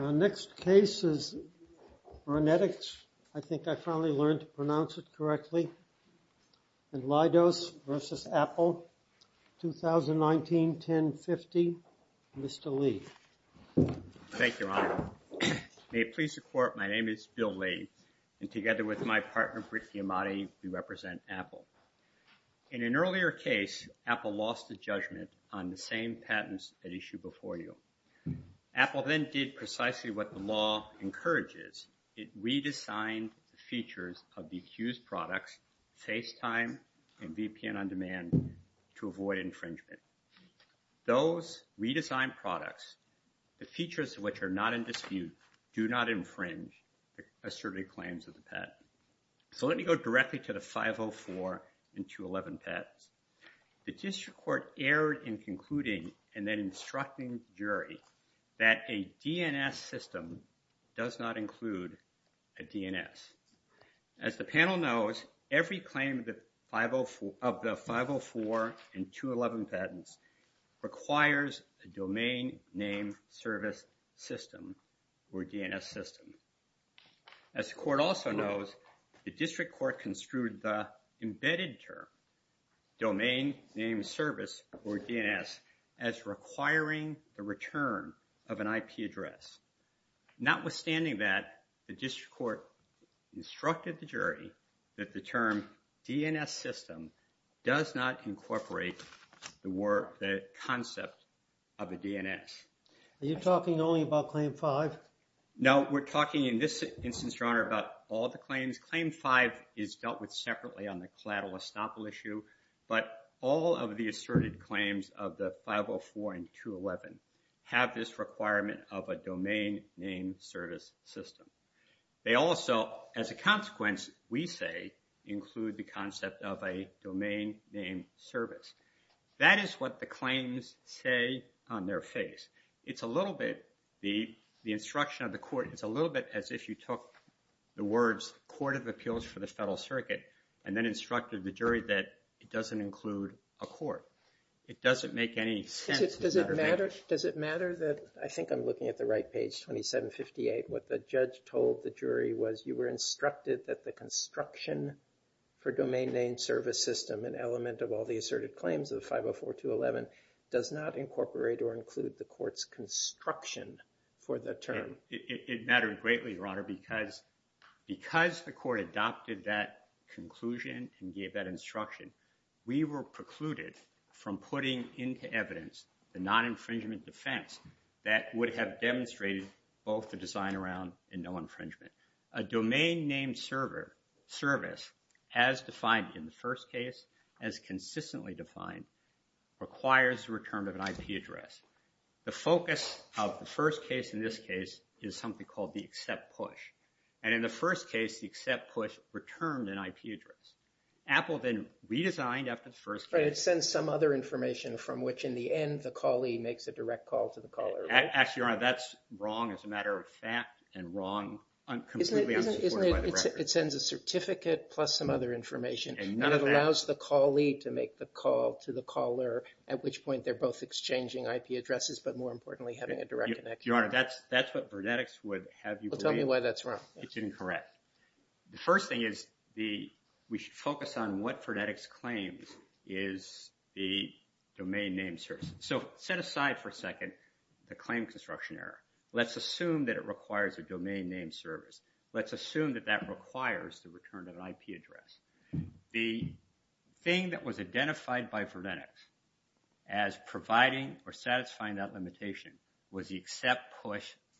Our next case is Rhenetics. I think I finally learned to pronounce it correctly. In Lidos v. Apple, 2019-1050. Mr. Lee. Thank you, Your Honor. May it please the Court, my name is Bill Lee, and together with my partner Brittany Amati, we represent Apple. In an earlier case, Apple lost the judgment on the same patents at issue before you. Apple then did precisely what the law encourages, it redesigned the features of the accused products, FaceTime and VPN On Demand, to avoid infringement. Those redesigned products, the features of which are not in dispute, do not infringe asserted claims of the patent. So let me go directly to the 504 and 211 patents. The district court erred in concluding, and then instructing the jury, that a DNS system does not include a DNS. As the panel knows, every claim of the 504 and 211 patents requires a domain name service system, or DNS system. As the court also knows, the district court construed the embedded term domain name service, or DNS, as requiring the return of an IP address. Notwithstanding that, the district court instructed the jury that the term DNS system does not incorporate the concept of a DNS. Are you talking only about claim five? No, we're talking in this instance, Your Honor, about all the claims. Claim five is dealt with separately on the collateral estoppel issue, but all of the asserted claims of the 504 and 211 have this requirement of a domain name service system. They also, as a consequence, we say, include the concept of a domain name service. That is what the claims say on their face. It's a little bit, the instruction of the court, it's a little bit as if you took the words court of appeals for the federal circuit and then instructed the jury that it doesn't include a court. It doesn't make any sense. Does it matter that, I think I'm looking at the right page, 2758, what the judge told the jury was you were instructed that the construction for domain name service system, an element of all the asserted claims of 504, 211, does not incorporate or include the Because the court adopted that conclusion and gave that instruction, we were precluded from putting into evidence the non-infringement defense that would have demonstrated both the design around and no infringement. A domain name service, as defined in the first case, as consistently defined, requires the return of an IP address. The focus of the first case in this And in the first case, the accept push returned an IP address. Apple then redesigned after the first case. But it sends some other information from which in the end, the callee makes a direct call to the caller. Actually, Your Honor, that's wrong as a matter of fact and wrong, completely unsupported by the record. Isn't it, it sends a certificate plus some other information and it allows the callee to make the call to the caller, at which point they're both exchanging IP addresses, but more importantly, having a direct connection. Your Honor, that's what Vernetix would have you believe. Tell me why that's wrong. It's incorrect. The first thing is, we should focus on what Vernetix claims is the domain name service. So, set aside for a second, the claim construction error. Let's assume that it requires a domain name service. Let's assume that that requires the return of an IP address. The thing that was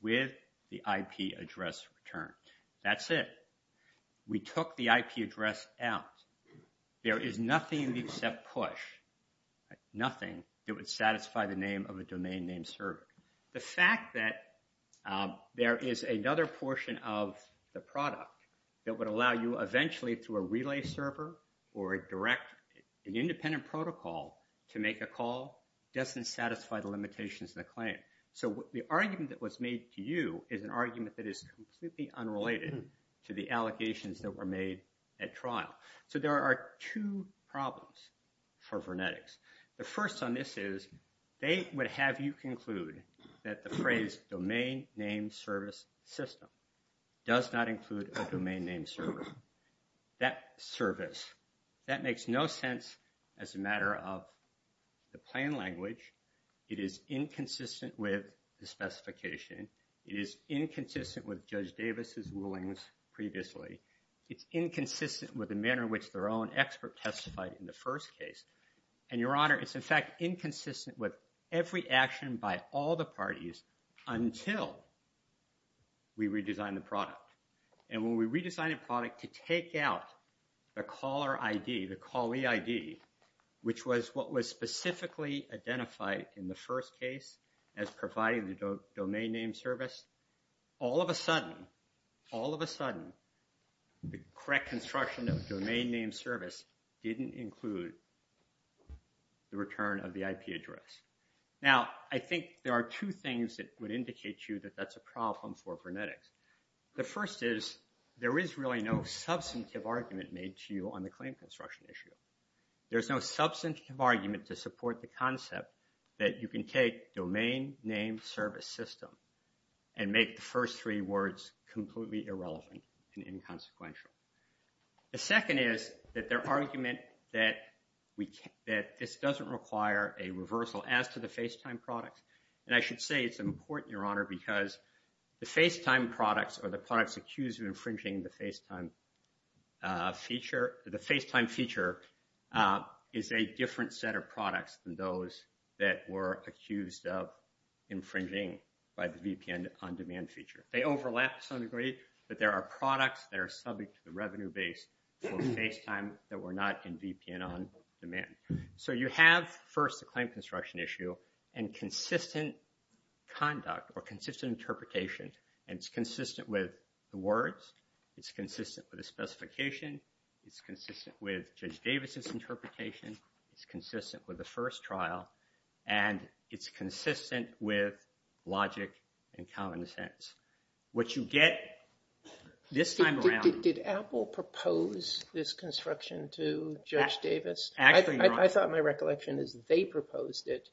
with the IP address return. That's it. We took the IP address out. There is nothing in the accept push, nothing that would satisfy the name of a domain name server. The fact that there is another portion of the product that would allow you eventually to a relay server or direct an independent protocol to make a call doesn't satisfy the limitations of the claim. So, the argument that was made to you is an argument that is completely unrelated to the allegations that were made at trial. So, there are two problems for Vernetix. The first on this is, they would have you conclude that the phrase domain name service system does not include a domain name server. That service, that makes no sense as a matter of the plain language. It is inconsistent with the specification. It is inconsistent with Judge Davis's rulings previously. It's inconsistent with the manner in which their own expert testified in the first case. And your honor, it's in fact inconsistent with every action by all the parties until we redesign the product. And when we redesign a product to take out the caller ID, the callee ID, which was what was specifically identified in the first case as providing the domain name service, all of a sudden, all of a sudden, the correct construction of the domain name service didn't include the return of the IP address. Now, I think there are two things that would indicate to you that that's a problem for Vernetix. The first is, there is really no substantive argument made to you on the claim construction issue. There's no substantive argument to support the concept that you can take domain name service system and make the first three words completely irrelevant and inconsequential. The second is that their argument that this doesn't require a reversal as to the FaceTime products. And I should say it's important, your honor, because the FaceTime products or the products accused of infringing the FaceTime feature, the FaceTime feature is a different set of products than those that were accused of infringing by the VPN on-demand feature. They overlap to some degree, but there are products that are subject to the revenue base for FaceTime that were not in VPN on-demand. So you have, first, a claim construction issue and consistent conduct or consistent interpretation. And it's consistent with the words, it's consistent with the specification, it's consistent with Judge Davis's interpretation, it's consistent with the first trial, and it's consistent with logic and common sense. What you get this time around... Did Apple propose this construction to it?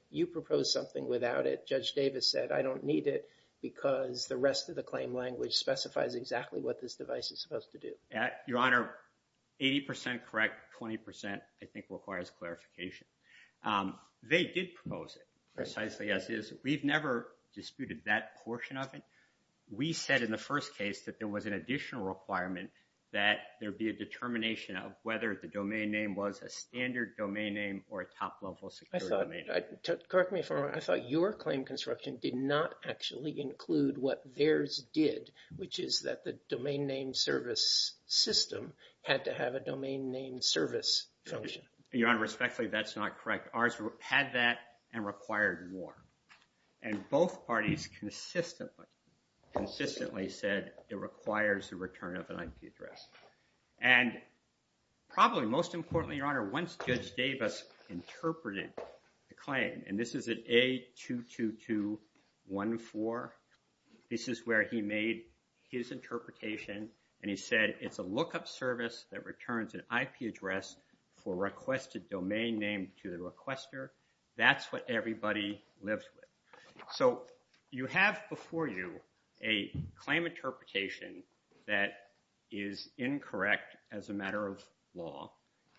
You proposed something without it. Judge Davis said, I don't need it because the rest of the claim language specifies exactly what this device is supposed to do. Your honor, 80% correct, 20% I think requires clarification. They did propose it precisely as is. We've never disputed that portion of it. We said in the first case that there was an additional requirement that there be a determination of whether the domain name was a standard domain name or a top-level secure domain name. Correct me if I'm wrong, I thought your claim construction did not actually include what theirs did, which is that the domain name service system had to have a domain name service function. Your honor, respectfully, that's not correct. Ours had that and required more. And both parties consistently said it requires the Once Judge Davis interpreted the claim, and this is at A22214, this is where he made his interpretation, and he said it's a lookup service that returns an IP address for requested domain name to the requester. That's what everybody lives with. So you have before you a claim interpretation that is incorrect as a matter of law,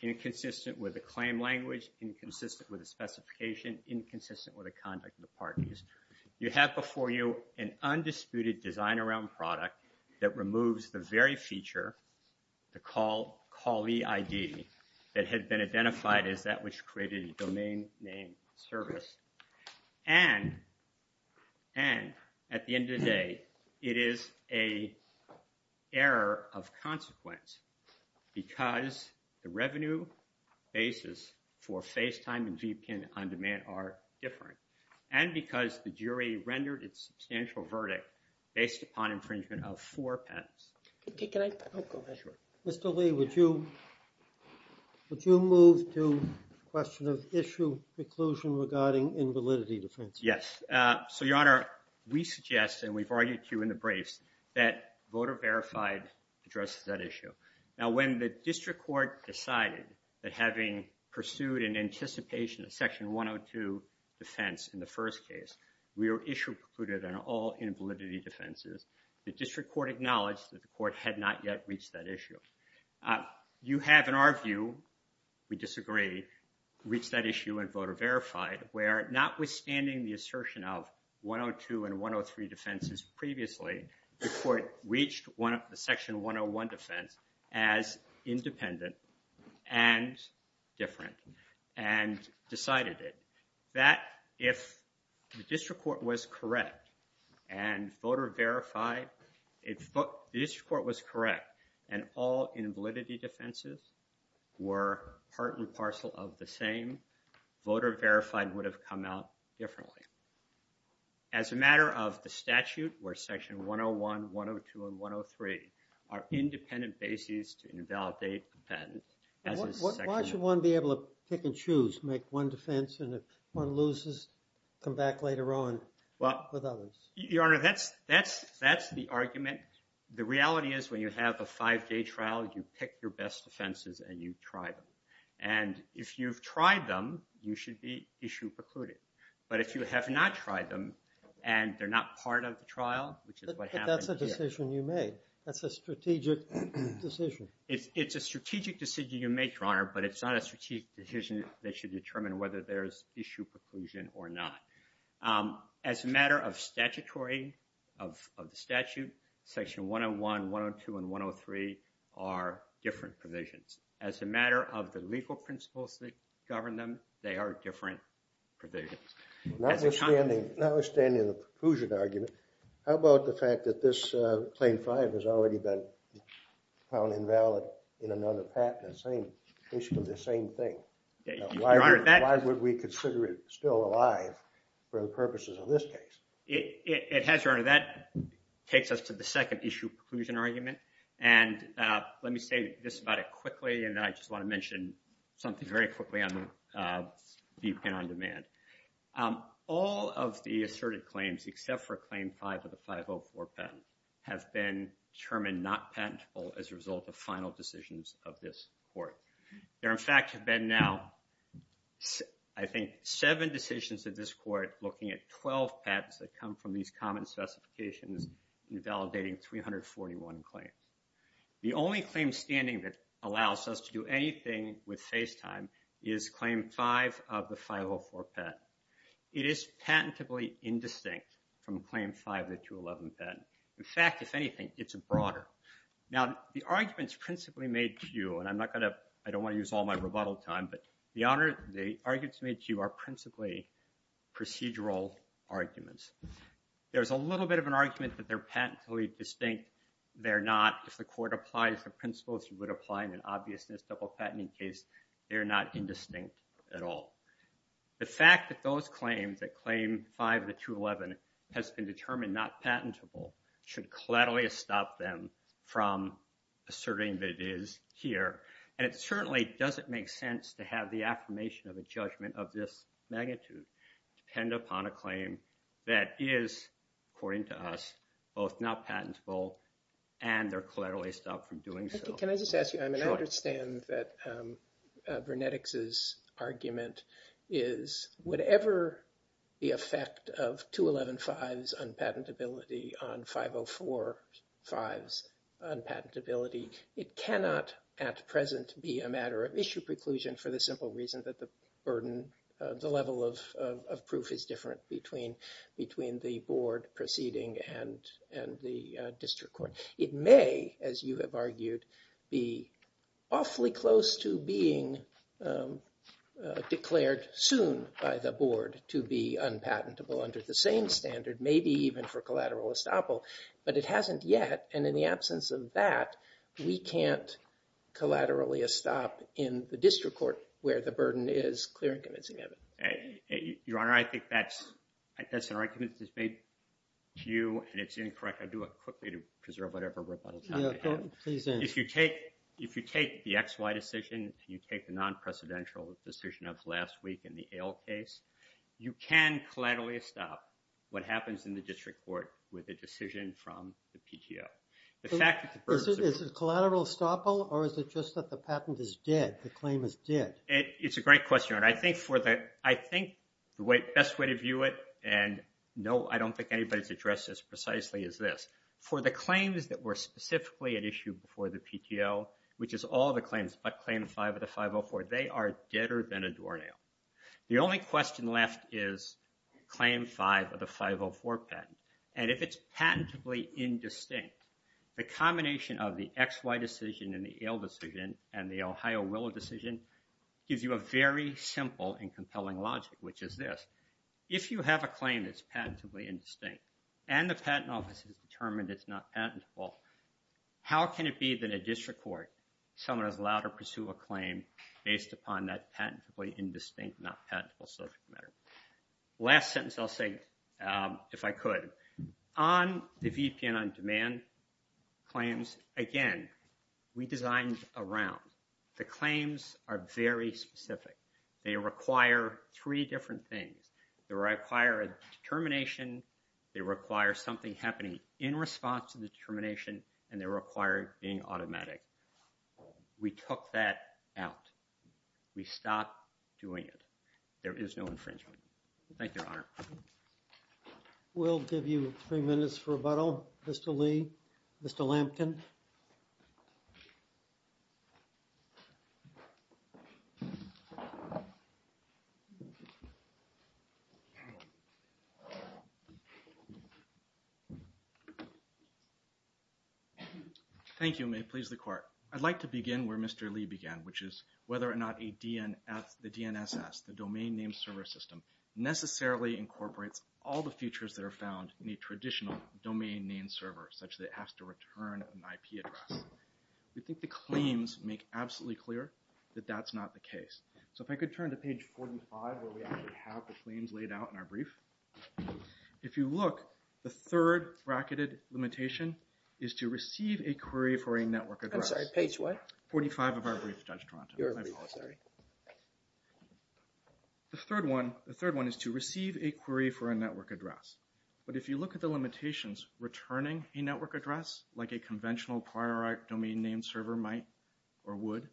inconsistent with the claim language, inconsistent with the specification, inconsistent with the conduct of the parties. You have before you an undisputed design around product that removes the very feature, the callee ID that had been identified as that which created a domain name service. And at the end of the day, it is an error of consequence because the revenue basis for FaceTime and Veepkin on demand are different. And because the jury rendered its substantial verdict based upon infringement of four patents. Okay, can I? Mr. Lee, would you move to the question of issue preclusion regarding invalidity defense? Yes. So, your honor, we suggest, and we've argued too in the briefs, that voter verified addresses that issue. Now, when the district court decided that having pursued an anticipation of Section 102 defense in the first case, we were issue precluded on all invalidity defenses, the district court acknowledged that the court had not yet reached that issue. You have, in our view, we disagree, reached that issue and voter verified where notwithstanding the assertion of 102 and 103 defenses previously, the court reached the Section 101 defense as verified. If the district court was correct, and all invalidity defenses were part and parcel of the same, voter verified would have come out differently. As a matter of the statute, where Section 101, 102, and 103 are independent bases to invalidate a patent. Why should one be able to pick and choose, make one defense and if one loses, come back later on with others? Your honor, that's the argument. The reality is when you have a five-day trial, you pick your best defenses and you try them. And if you've tried them, you should be issue precluded. But if you have not tried them and they're not part of the trial, which is what happened here. That's a decision you made. That's a strategic decision. It's a strategic decision you make, your honor, but it's not a strategic decision that should determine whether there's issue preclusion or not. As a matter of statutory, of the statute, Section 101, 102, and 103 are different provisions. As a matter of the legal principles that govern them, they are different provisions. Notwithstanding the preclusion argument, how about the fact that this Claim 5 has already been found invalid in other patents? They should be the same thing. Why would we consider it still alive for the purposes of this case? It has, your honor. That takes us to the second issue preclusion argument. And let me say this about it quickly and then I just want to mention something very quickly on viewpoint on demand. All of the asserted claims except for Claim 5 of the 504 patent have been determined not patentable as a result of final decisions of this court. There in fact have been now, I think, seven decisions of this court looking at 12 patents that come from these common specifications invalidating 341 claims. The only claim standing that allows us to do anything with face time is Claim 5 of the 504 patent. It is patentably indistinct from Claim 5 of the 211 In fact, if anything, it's broader. Now the arguments principally made to you, and I'm not going to, I don't want to use all my rebuttal time, but the arguments made to you are principally procedural arguments. There's a little bit of an argument that they're patently distinct. They're not. If the court applies the principles you would apply in an obviousness double patenting case, they're not indistinct at all. The fact that those claims, that Claim 5 of the 211, has been determined not patentable should collaterally stop them from asserting that it is here. And it certainly doesn't make sense to have the affirmation of a judgment of this magnitude depend upon a claim that is, according to us, both not patentable and they're collaterally stopped from doing so. Can I just ask you, I mean, I understand that Vernetics' argument is whatever the effect of 211-5's unpatentability on 504-5's unpatentability, it cannot at present be a matter of issue preclusion for the simple reason that the burden, the level of proof is different between the board proceeding and the district court. It may, as you have argued, be awfully close to being declared soon by the board to be unpatentable under the same standard, maybe even for collateral estoppel, but it hasn't yet, and in the absence of that, we can't collaterally stop in the district court where the burden is clear and convincing of it. Your Honor, I think that's an argument that's made to you, and it's incorrect. I'll do it with whatever rebuttal time I have. If you take the X-Y decision, if you take the non-precedential decision of last week in the Ale case, you can collaterally stop what happens in the district court with a decision from the PTO. Is it collateral estoppel, or is it just that the patent is dead, the claim is dead? It's a great question, Your Honor. I think the best way to view it, and no, I don't think anybody's addressed this precisely as this, for the claims that were specifically at issue before the PTO, which is all the claims but Claim 5 of the 504, they are deader than a doornail. The only question left is Claim 5 of the 504 patent, and if it's patentably indistinct, the combination of the X-Y decision and the Ale decision and the Ohio Willow decision gives you a very simple and compelling logic, which is this. If you have a How can it be that in a district court, someone is allowed to pursue a claim based upon that patentably indistinct, not patentable subject matter? Last sentence I'll say, if I could. On the VPN on-demand claims, again, we designed a round. The claims are very specific. They require three different things. They require a determination. They require something happening in response to the determination, and they require being automatic. We took that out. We stopped doing it. There is no infringement. Thank you, Your Honor. We'll give you three minutes for rebuttal, Mr. Lee, Mr. Lampkin. Thank you. May it please the Court. I'd like to begin where Mr. Lee began, which is whether or not the DNSS, the Domain Name Server System, necessarily incorporates all the features that are found in a traditional domain name server, such that it has to return an IP address. We think the claims make absolutely clear that that's not the case. So if I could turn to page 45, where we actually have the claims laid out in our brief. If you look, the third bracket limitation is to receive a query for a network address. I'm sorry, page what? 45 of our brief, Judge Toronto. Your brief, sorry. The third one is to receive a query for a network address. But if you look at the limitations, returning a network address, like a conventional prior domain name server might or would,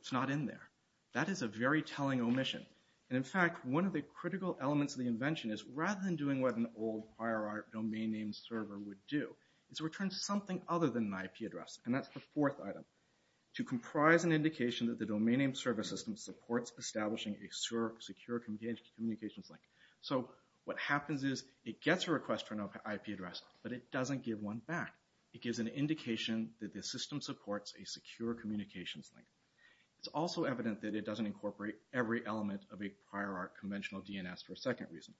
it's not in there. That is a very telling omission. And in fact, one of the critical elements of the invention is, rather than doing what an old domain name server would do, is return something other than an IP address. And that's the fourth item. To comprise an indication that the domain name server system supports establishing a secure communications link. So what happens is, it gets a request for an IP address, but it doesn't give one back. It gives an indication that the system supports a secure communications link. It's also evident that it doesn't incorporate every element of a prior art conventional DNS for a second reason.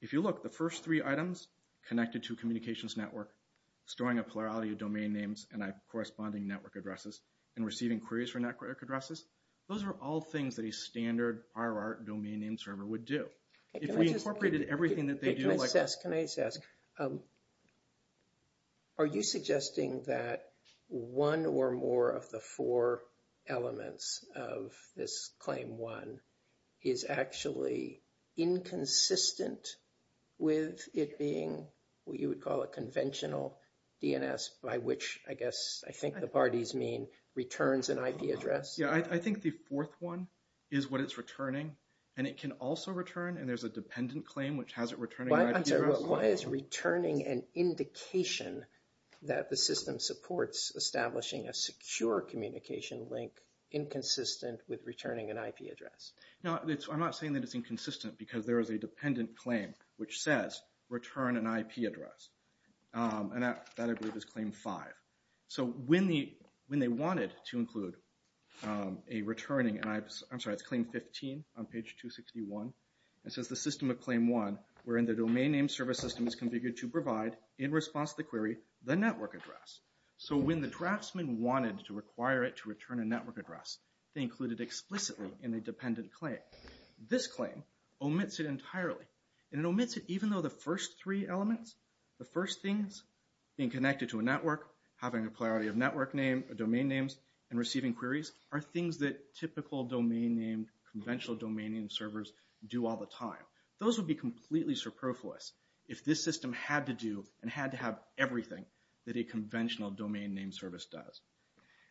If you look, the first three items, connected to a communications network, storing a plurality of domain names and corresponding network addresses, and receiving queries for network addresses, those are all things that a standard RR domain name server would do. If we incorporated everything that they do. Can I just ask, are you suggesting that one or more of the four elements of this claim one is actually inconsistent with it being what you would call a conventional DNS by which, I guess, I think the parties mean returns an IP address? Yeah, I think the fourth one is what it's returning. And it can also return, and there's a dependent claim which has it returning an IP address. Why is returning an indication that the system supports establishing a secure communication link inconsistent with returning an IP address? Now, I'm not saying that it's inconsistent because there is a dependent claim which says return an IP address. And that I believe is claim five. So when they wanted to include a returning, I'm sorry, it's claim 15 on page 261. It says the system of claim one wherein the domain name service system is configured to require it to return a network address. They included explicitly in a dependent claim. This claim omits it entirely. And it omits it even though the first three elements, the first things, being connected to a network, having a priority of network name or domain names, and receiving queries are things that typical domain name, conventional domain name servers do all the time. Those would be completely superfluous if this system had to do and had to have everything that a conventional domain name service does.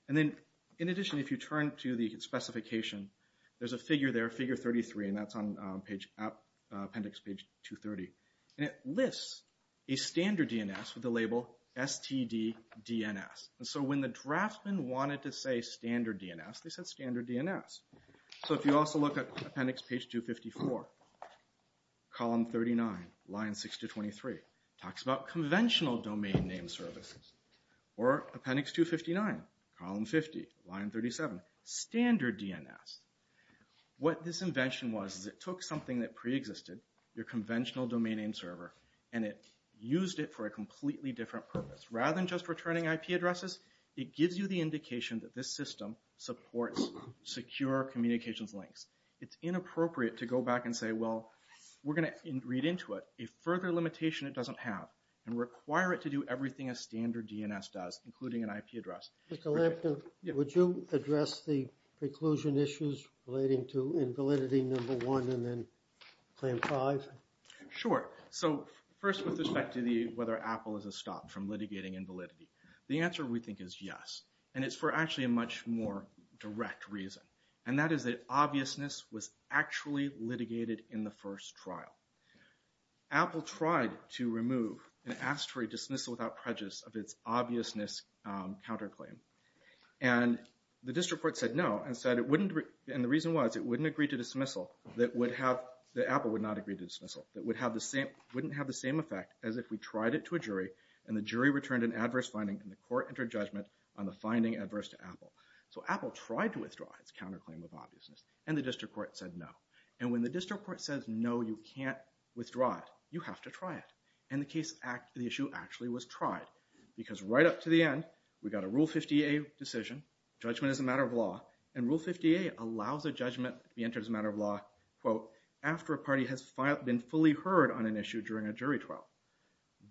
And then in addition, if you turn to the specification, there's a figure there, figure 33, and that's on appendix page 230. And it lists a standard DNS with the label STD DNS. And so when the draftsman wanted to say standard DNS, they said standard DNS. So if you also look at appendix page 254, column 39, line 6023, talks about conventional domain name services. Or appendix 259, column 50, line 37, standard DNS. What this invention was is it took something that preexisted, your conventional domain name server, and it used it for a completely different purpose. Rather than just returning IP addresses, it gives you the indication that this system supports secure communications links. It's inappropriate to go back and say, well, we're going to read into it. A further limitation, it doesn't have. And require it to do everything a standard DNS does, including an IP address. Mr. Lampton, would you address the preclusion issues relating to invalidity number one, and then claim five? Sure. So first with respect to whether Apple is a stop from litigating invalidity. The answer we think is yes. And it's for actually a much more direct reason. And that is that obviousness was actually litigated in the first trial. Apple tried to remove and asked for a dismissal without prejudice of its obviousness counterclaim. And the district court said no, and the reason was it wouldn't agree to dismissal that Apple would not agree to dismissal. It wouldn't have the same effect as if we tried it to a jury, and the jury returned an adverse finding, and the court entered judgment on the finding adverse to Apple. So Apple tried to withdraw its counterclaim of obviousness, and the district court said no. And when the district court says no, you can't withdraw it. You have to try it. And the issue actually was tried. Because right up to the end, we got a Rule 50A decision, judgment is a matter of law. And Rule 50A allows a judgment to be entered as a matter of law, quote, after a party has been fully heard on an issue during a jury trial.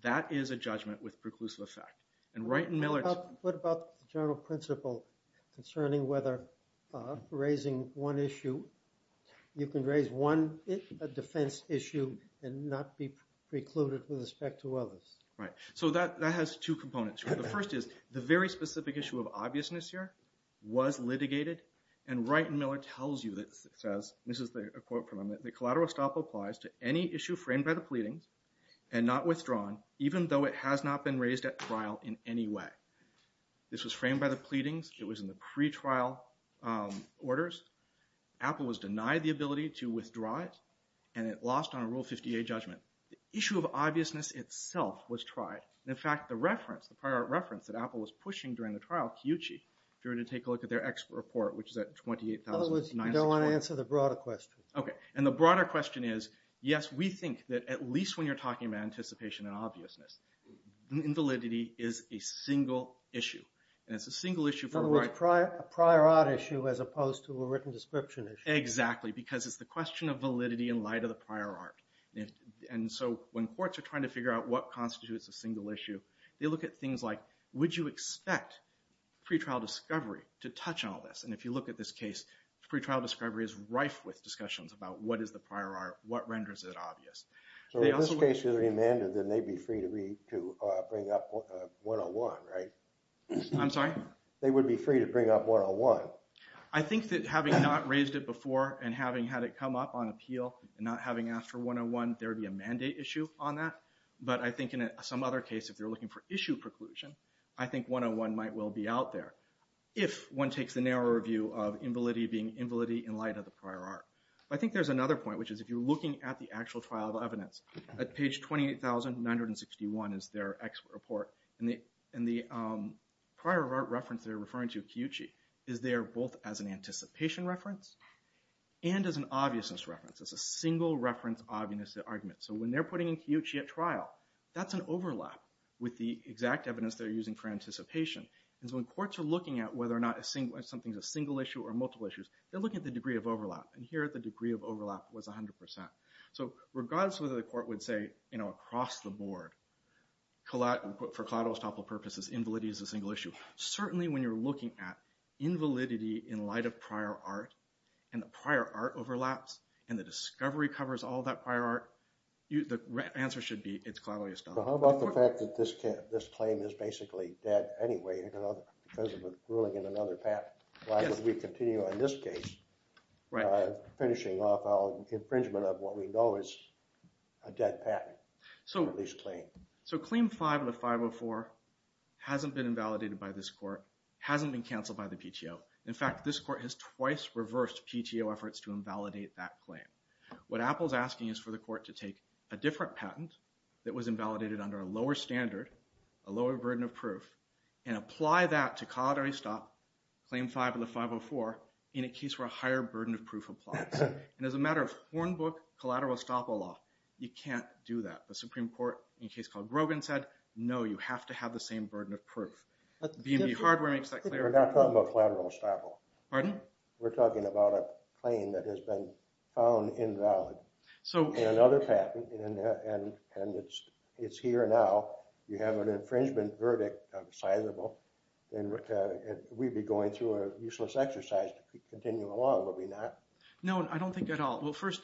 That is a judgment with preclusive effect. And right in Miller's- What about the general principle concerning whether raising one issue, you can raise one defense issue and not be precluded with respect to others? Right. So that has two components. The first is the very specific issue of obviousness here was litigated. And right in Miller tells you that says, this is a quote from him, that the collateral stop applies to any issue framed by the pleadings and not withdrawn, even though it has not been raised at trial in any way. This was framed by the pleadings, it was in the pretrial orders. Apple was denied the ability to withdraw it, and it lost on a Rule 50A judgment. The issue of obviousness itself was tried. In fact, the reference, the prior reference that Apple was pushing during the trial, Kyuchi, if you were to take a look at their expert report, which is at 28,961- You don't want to answer the broader question. Okay. And the broader question is, yes, we think that at least when you're talking about anticipation and obviousness, invalidity is a single issue. And it's a single issue- In other words, a prior art issue as opposed to a written description issue. Exactly. Because it's the question of validity in light of the prior art. And so when courts are trying to figure out what constitutes a single issue, they look at things like, would you expect pretrial discovery to touch on all this? And if you look at this case, pretrial discovery is rife with discussions about what is the prior art? What renders it obvious? So in this case, if it was remanded, then they'd be free to bring up 101, right? I'm sorry? They would be free to bring up 101. I think that having not raised it before and having had it come up on appeal and not having asked for 101, there would be a mandate issue on that. But I think in some other case, if you're looking for issue preclusion, I think 101 might well be out there if one takes the narrower view of invalidity being invalidity in light of the prior art. I think there's another point, which is if you're looking at the actual trial of evidence, at page 28,961 is their expert report. And the prior art reference they're referring to, Kiyuchi, is there both as an anticipation reference and as an obviousness reference. It's a single reference obviousness argument. So when they're putting in Kiyuchi at trial, that's an overlap with the exact evidence they're using for anticipation. And so when courts are looking at whether or not something's a single issue or the degree of overlap, and here the degree of overlap was 100%. So regardless of whether the court would say across the board, for collateral estoppel purposes, invalidity is a single issue. Certainly when you're looking at invalidity in light of prior art and the prior art overlaps and the discovery covers all that prior art, the answer should be it's collateral estoppel. How about the fact that this claim is basically dead anyway because of a ruling in another path? Why would we continue on this case, finishing off our infringement of what we know is a dead patent, at least claim? So claim 5 of 504 hasn't been invalidated by this court, hasn't been canceled by the PTO. In fact, this court has twice reversed PTO efforts to invalidate that claim. What Apple's asking is for the court to take a different patent that was invalidated under a burden of proof and apply that to collateral estoppel, claim 5 of the 504, in a case where a higher burden of proof applies. And as a matter of hornbook collateral estoppel law, you can't do that. The Supreme Court in a case called Grogan said, no, you have to have the same burden of proof. B&B Hardware makes that clear. We're not talking about collateral estoppel. Pardon? We're talking about a claim that has been found invalid. So in another patent, and it's here now, you have an infringement verdict of sizable. And we'd be going through a useless exercise to continue along, would we not? No, I don't think at all. Well, first,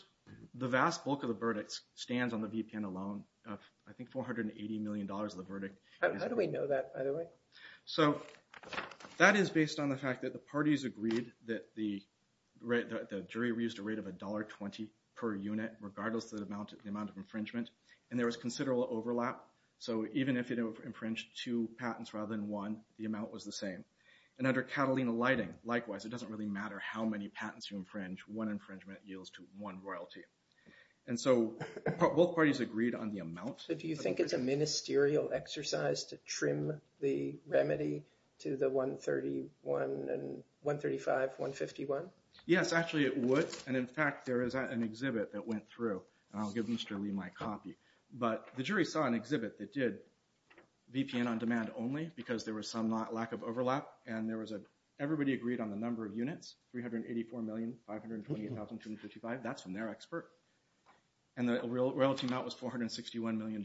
the vast bulk of the verdict stands on the VPN alone. I think $480 million of the verdict. How do we know that, by the way? So that is based on the fact that the parties agreed that the jury reused a rate of $1.20 per unit, regardless of the amount of infringement. And there was considerable overlap. So even if it infringed two patents rather than one, the amount was the same. And under Catalina lighting, likewise, it doesn't really matter how many patents you infringe. One infringement yields to one royalty. And so both parties agreed on the amount. So do you think it's a ministerial exercise to trim the remedy to the $135, $151? Yes, actually, it would. And in fact, there is an exhibit that went through. And I'll give Mr. Lee my copy. But the jury saw an exhibit that did VPN on demand only because there was some lack of overlap. And everybody agreed on the number of units, 384,528,255. That's from their expert. And the royalty amount was $461 million.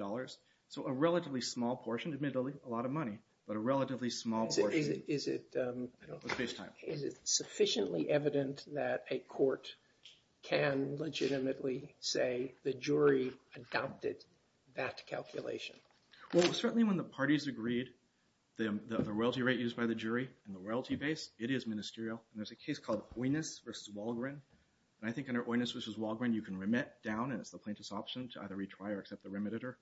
So a relatively small portion, admittedly, a lot of money, but a relatively small portion. Is it sufficiently evident that a court can legitimately say the jury adopted that calculation? Well, certainly when the parties agreed, the royalty rate used by the jury and the royalty base, it is ministerial. And there's a case called Oynous v. Walgren. And I think under Oynous v. Walgren, you can remit down, and it's the plaintiff's option to either retry or accept the remitter,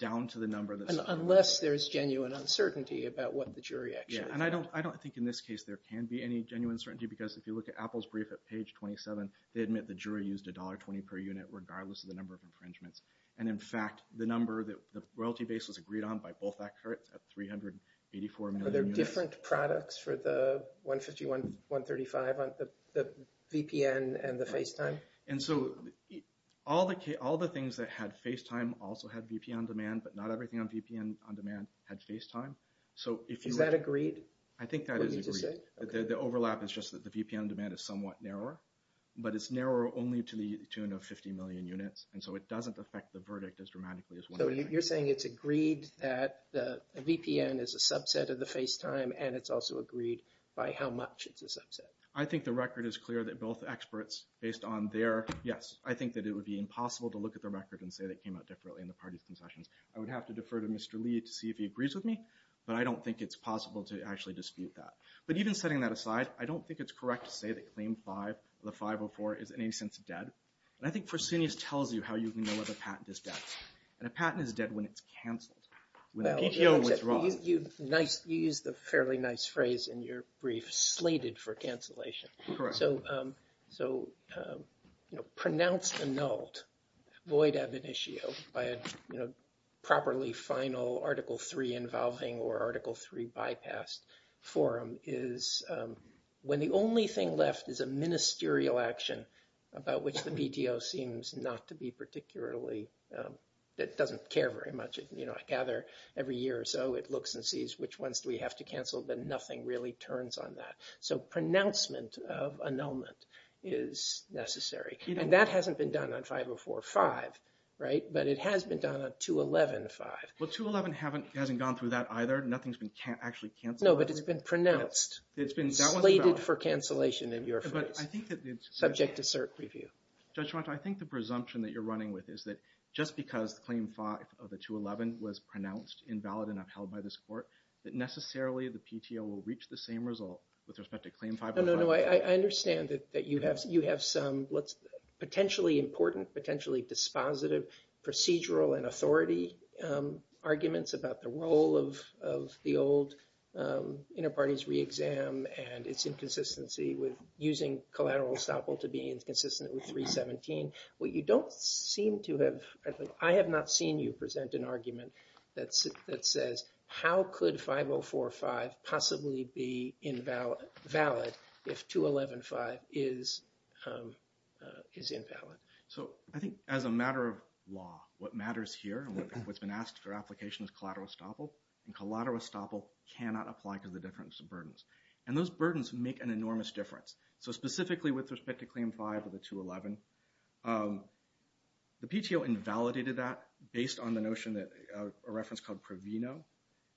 down to the number that's- Unless there's genuine uncertainty about what the jury actually thought. Yeah. And I don't think in this case there can be any genuine certainty, because if you look at Apple's brief at page 27, they admit the jury used $1.20 per unit, regardless of the number of infringements. And in fact, the number that the royalty base was agreed on by both experts at 384 million units. Are there different products for the 151,135, the VPN and the FaceTime? And so all the things that had FaceTime also had VP on demand, but not everything on VPN on demand had FaceTime. Is that agreed? I think that is agreed. What do you mean to say? The overlap is just that the VPN demand is somewhat narrower, but it's narrower only to the tune of 50 million units. And so it doesn't affect the verdict as dramatically as- So you're saying it's agreed that the VPN is a subset of the FaceTime, and it's also agreed by how much it's a subset? I think the record is clear that both experts based on their, yes, I think that it would be impossible to look at their record and say they came out differently in the parties' concessions. I would have to defer to Mr. Lee to see if he agrees with me, but I don't think it's possible to actually dispute that. But even setting that aside, I don't think it's correct to say that claim five of the 504 is in any sense dead. And I think Fresenius tells you how you can know if a patent is dead. And a patent is dead when it's canceled, when the PTO withdraws. Well, you used a fairly nice phrase in your brief, slated for cancellation. Correct. So pronounced annulled, void ab initio by a properly final Article III involving or Article III bypassed forum is when the only thing left is a ministerial action about which the PTO seems not to be particularly- that doesn't care very much. I gather every year or so it looks and sees which ones do we have to cancel, but nothing really turns on that. So pronouncement of annulment is necessary. And that hasn't been done on 504-5, right? But it has been done on 211-5. Well, 211 hasn't gone through that either. Nothing's been actually canceled. No, but it's been pronounced, slated for cancellation in your phrase. But I think that it's- Subject to cert review. Judge Ronto, I think the presumption that you're running with is that just because Claim 5 of the 211 was pronounced invalid and upheld by this court, that necessarily the PTO will reach the same result with respect to Claim 5- No, no, no. I understand that you have some potentially important, potentially dispositive procedural and authority arguments about the role of the old inter-parties re-exam and its inconsistency with using collateral estoppel to be inconsistent with 317. What you don't seem to have- I have not seen you present an argument that says, how could 504-5 possibly be invalid if 211-5 is invalid? So I think as a matter of law, what matters here and what's been asked for application is collateral estoppel. And collateral estoppel cannot apply to the difference of burdens. And those burdens make an enormous difference. So specifically with respect to Claim 5 of the 211, the PTO invalidated that based on the notion that a reference called Pravino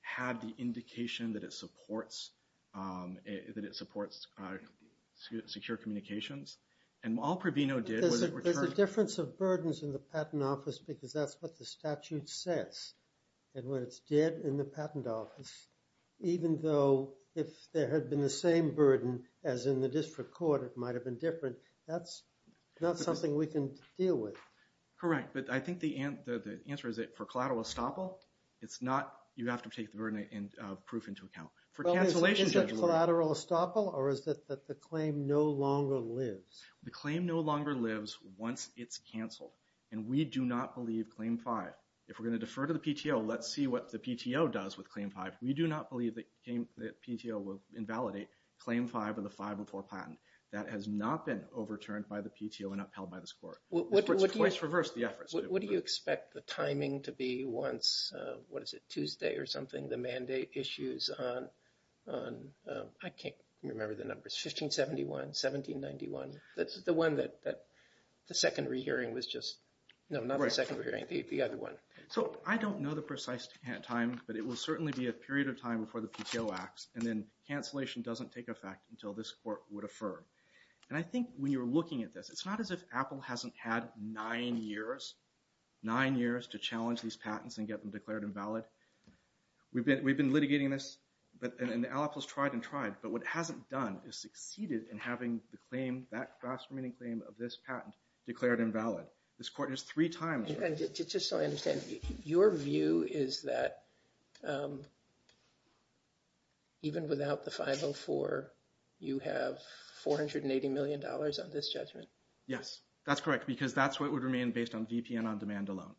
had the indication that it supports secure communications. And while Pravino did- There's a difference of burdens in the patent office because that's what the statute says. And when it's dead in the patent office, even though if there had been the same burden as in the district court, it might have been different. That's not something we can deal with. Correct. But I think the answer is that for collateral estoppel, it's not- you have to take the burden of proof into account. Is it collateral estoppel or is it that the claim no longer lives? The claim no longer lives once it's canceled. And we do not believe Claim 5. If we're going to defer to the PTO, let's see what the PTO does with Claim 5. We do not believe that PTO will patent. That has not been overturned by the PTO and upheld by this court. It's twice reversed, the efforts. What do you expect the timing to be once, what is it, Tuesday or something, the mandate issues on, I can't remember the numbers, 1571, 1791, the one that the secondary hearing was just- No, not the secondary hearing, the other one. So I don't know the precise time, but it will certainly be a period of time before the PTO acts. And then cancellation doesn't take effect until this court would affirm. And I think when you're looking at this, it's not as if Apple hasn't had nine years, nine years to challenge these patents and get them declared invalid. We've been litigating this, and Apple's tried and tried, but what it hasn't done is succeeded in having the claim, that fast-remaining claim of this patent, declared invalid. This court $480 million on this judgment. Yes, that's correct, because that's what would remain based on VPN on demand alone.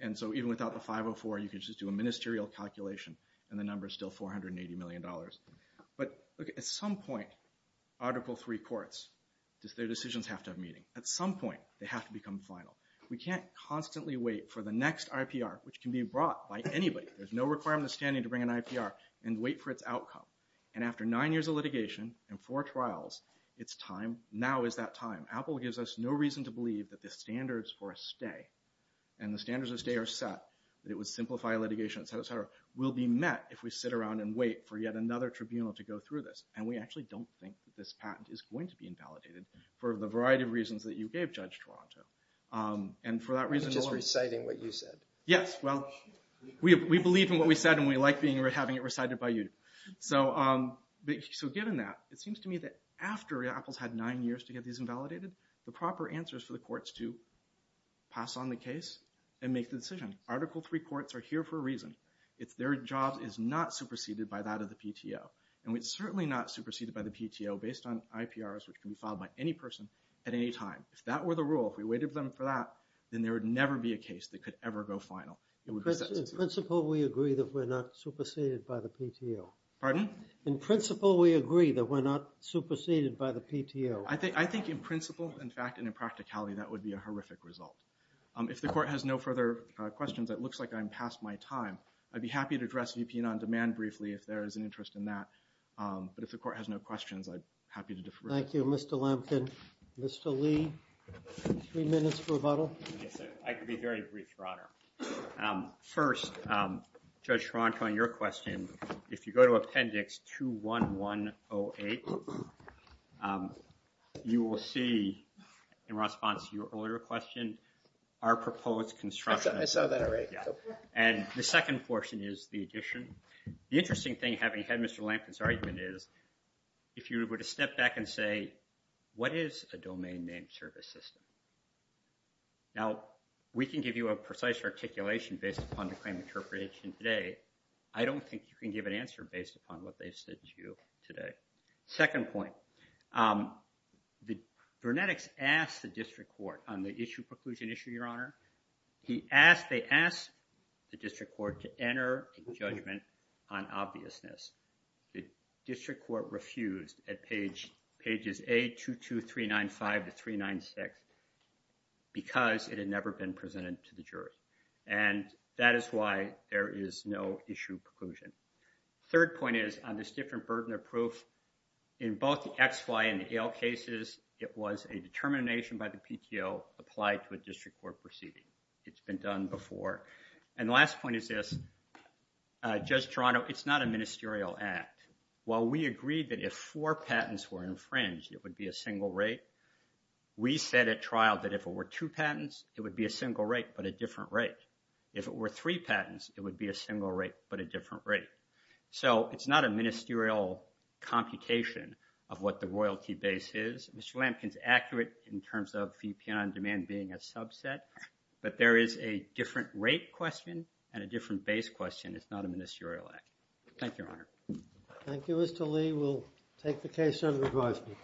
And so even without the 504, you can just do a ministerial calculation, and the number is still $480 million. But at some point, Article III courts, their decisions have to have meaning. At some point, they have to become final. We can't constantly wait for the next IPR, which can be brought by anybody. There's no requirement of standing to bring an IPR, and wait for its outcome. And after nine years of litigation, and four trials, it's time. Now is that time. Apple gives us no reason to believe that the standards for a stay, and the standards of stay are set, that it would simplify litigation, et cetera, will be met if we sit around and wait for yet another tribunal to go through this. And we actually don't think that this patent is going to be invalidated for the variety of reasons that you gave, Judge Toronto. And for that reason, we're just reciting what you said. Yes, well, we believe in what we said, and we like having it recited by you. So given that, it seems to me that after Apple's had nine years to get these invalidated, the proper answer is for the courts to pass on the case and make the decision. Article III courts are here for a reason. It's their job is not superseded by that of the PTO. And it's certainly not superseded by the PTO based on IPRs, which can be filed by any person at any time. If that were the rule, if we waited for them for that, then there would never be a case that could ever go final. In principle, we agree that we're not superseded by the PTO. Pardon? In principle, we agree that we're not superseded by the PTO. I think in principle, in fact, and in practicality, that would be a horrific result. If the court has no further questions, it looks like I'm past my time. I'd be happy to address VP Non-Demand briefly if there is an interest in that. But if the court has no questions, I'm happy to defer. Thank you, Mr. Lampkin. Mr. Lee, three minutes for rebuttal. Yes, sir. I can be very brief, Your Honor. First, Judge Toronto, on your question, if you go to Appendix 21108, you will see, in response to your earlier question, our proposed construction. I saw that already. And the second portion is the addition. The interesting thing, having had Mr. Lampkin's what is a domain name service system? Now, we can give you a precise articulation based upon the claim interpretation today. I don't think you can give an answer based upon what they've said to you today. Second point, Vernetics asked the District Court on the issue, preclusion issue, Your Honor. He asked, they asked the District Court to enter a judgment on obviousness. The 22395 to 396, because it had never been presented to the jury. And that is why there is no issue preclusion. Third point is, on this different burden of proof, in both the X-FY and the AIL cases, it was a determination by the PTO applied to a District Court proceeding. It's been done before. And the last point is this, Judge Toronto, it's not a ministerial act. While we agreed that if four patents were infringed, it would be a single rate, we said at trial that if it were two patents, it would be a single rate, but a different rate. If it were three patents, it would be a single rate, but a different rate. So it's not a ministerial computation of what the royalty base is. Mr. Lampkin's accurate in terms of VPN on demand being a subset. But there is a different rate question and a different base question. It's not a ministerial act. Thank you, Your Honor. Thank you, Mr. Lee. We'll take the case under advisement.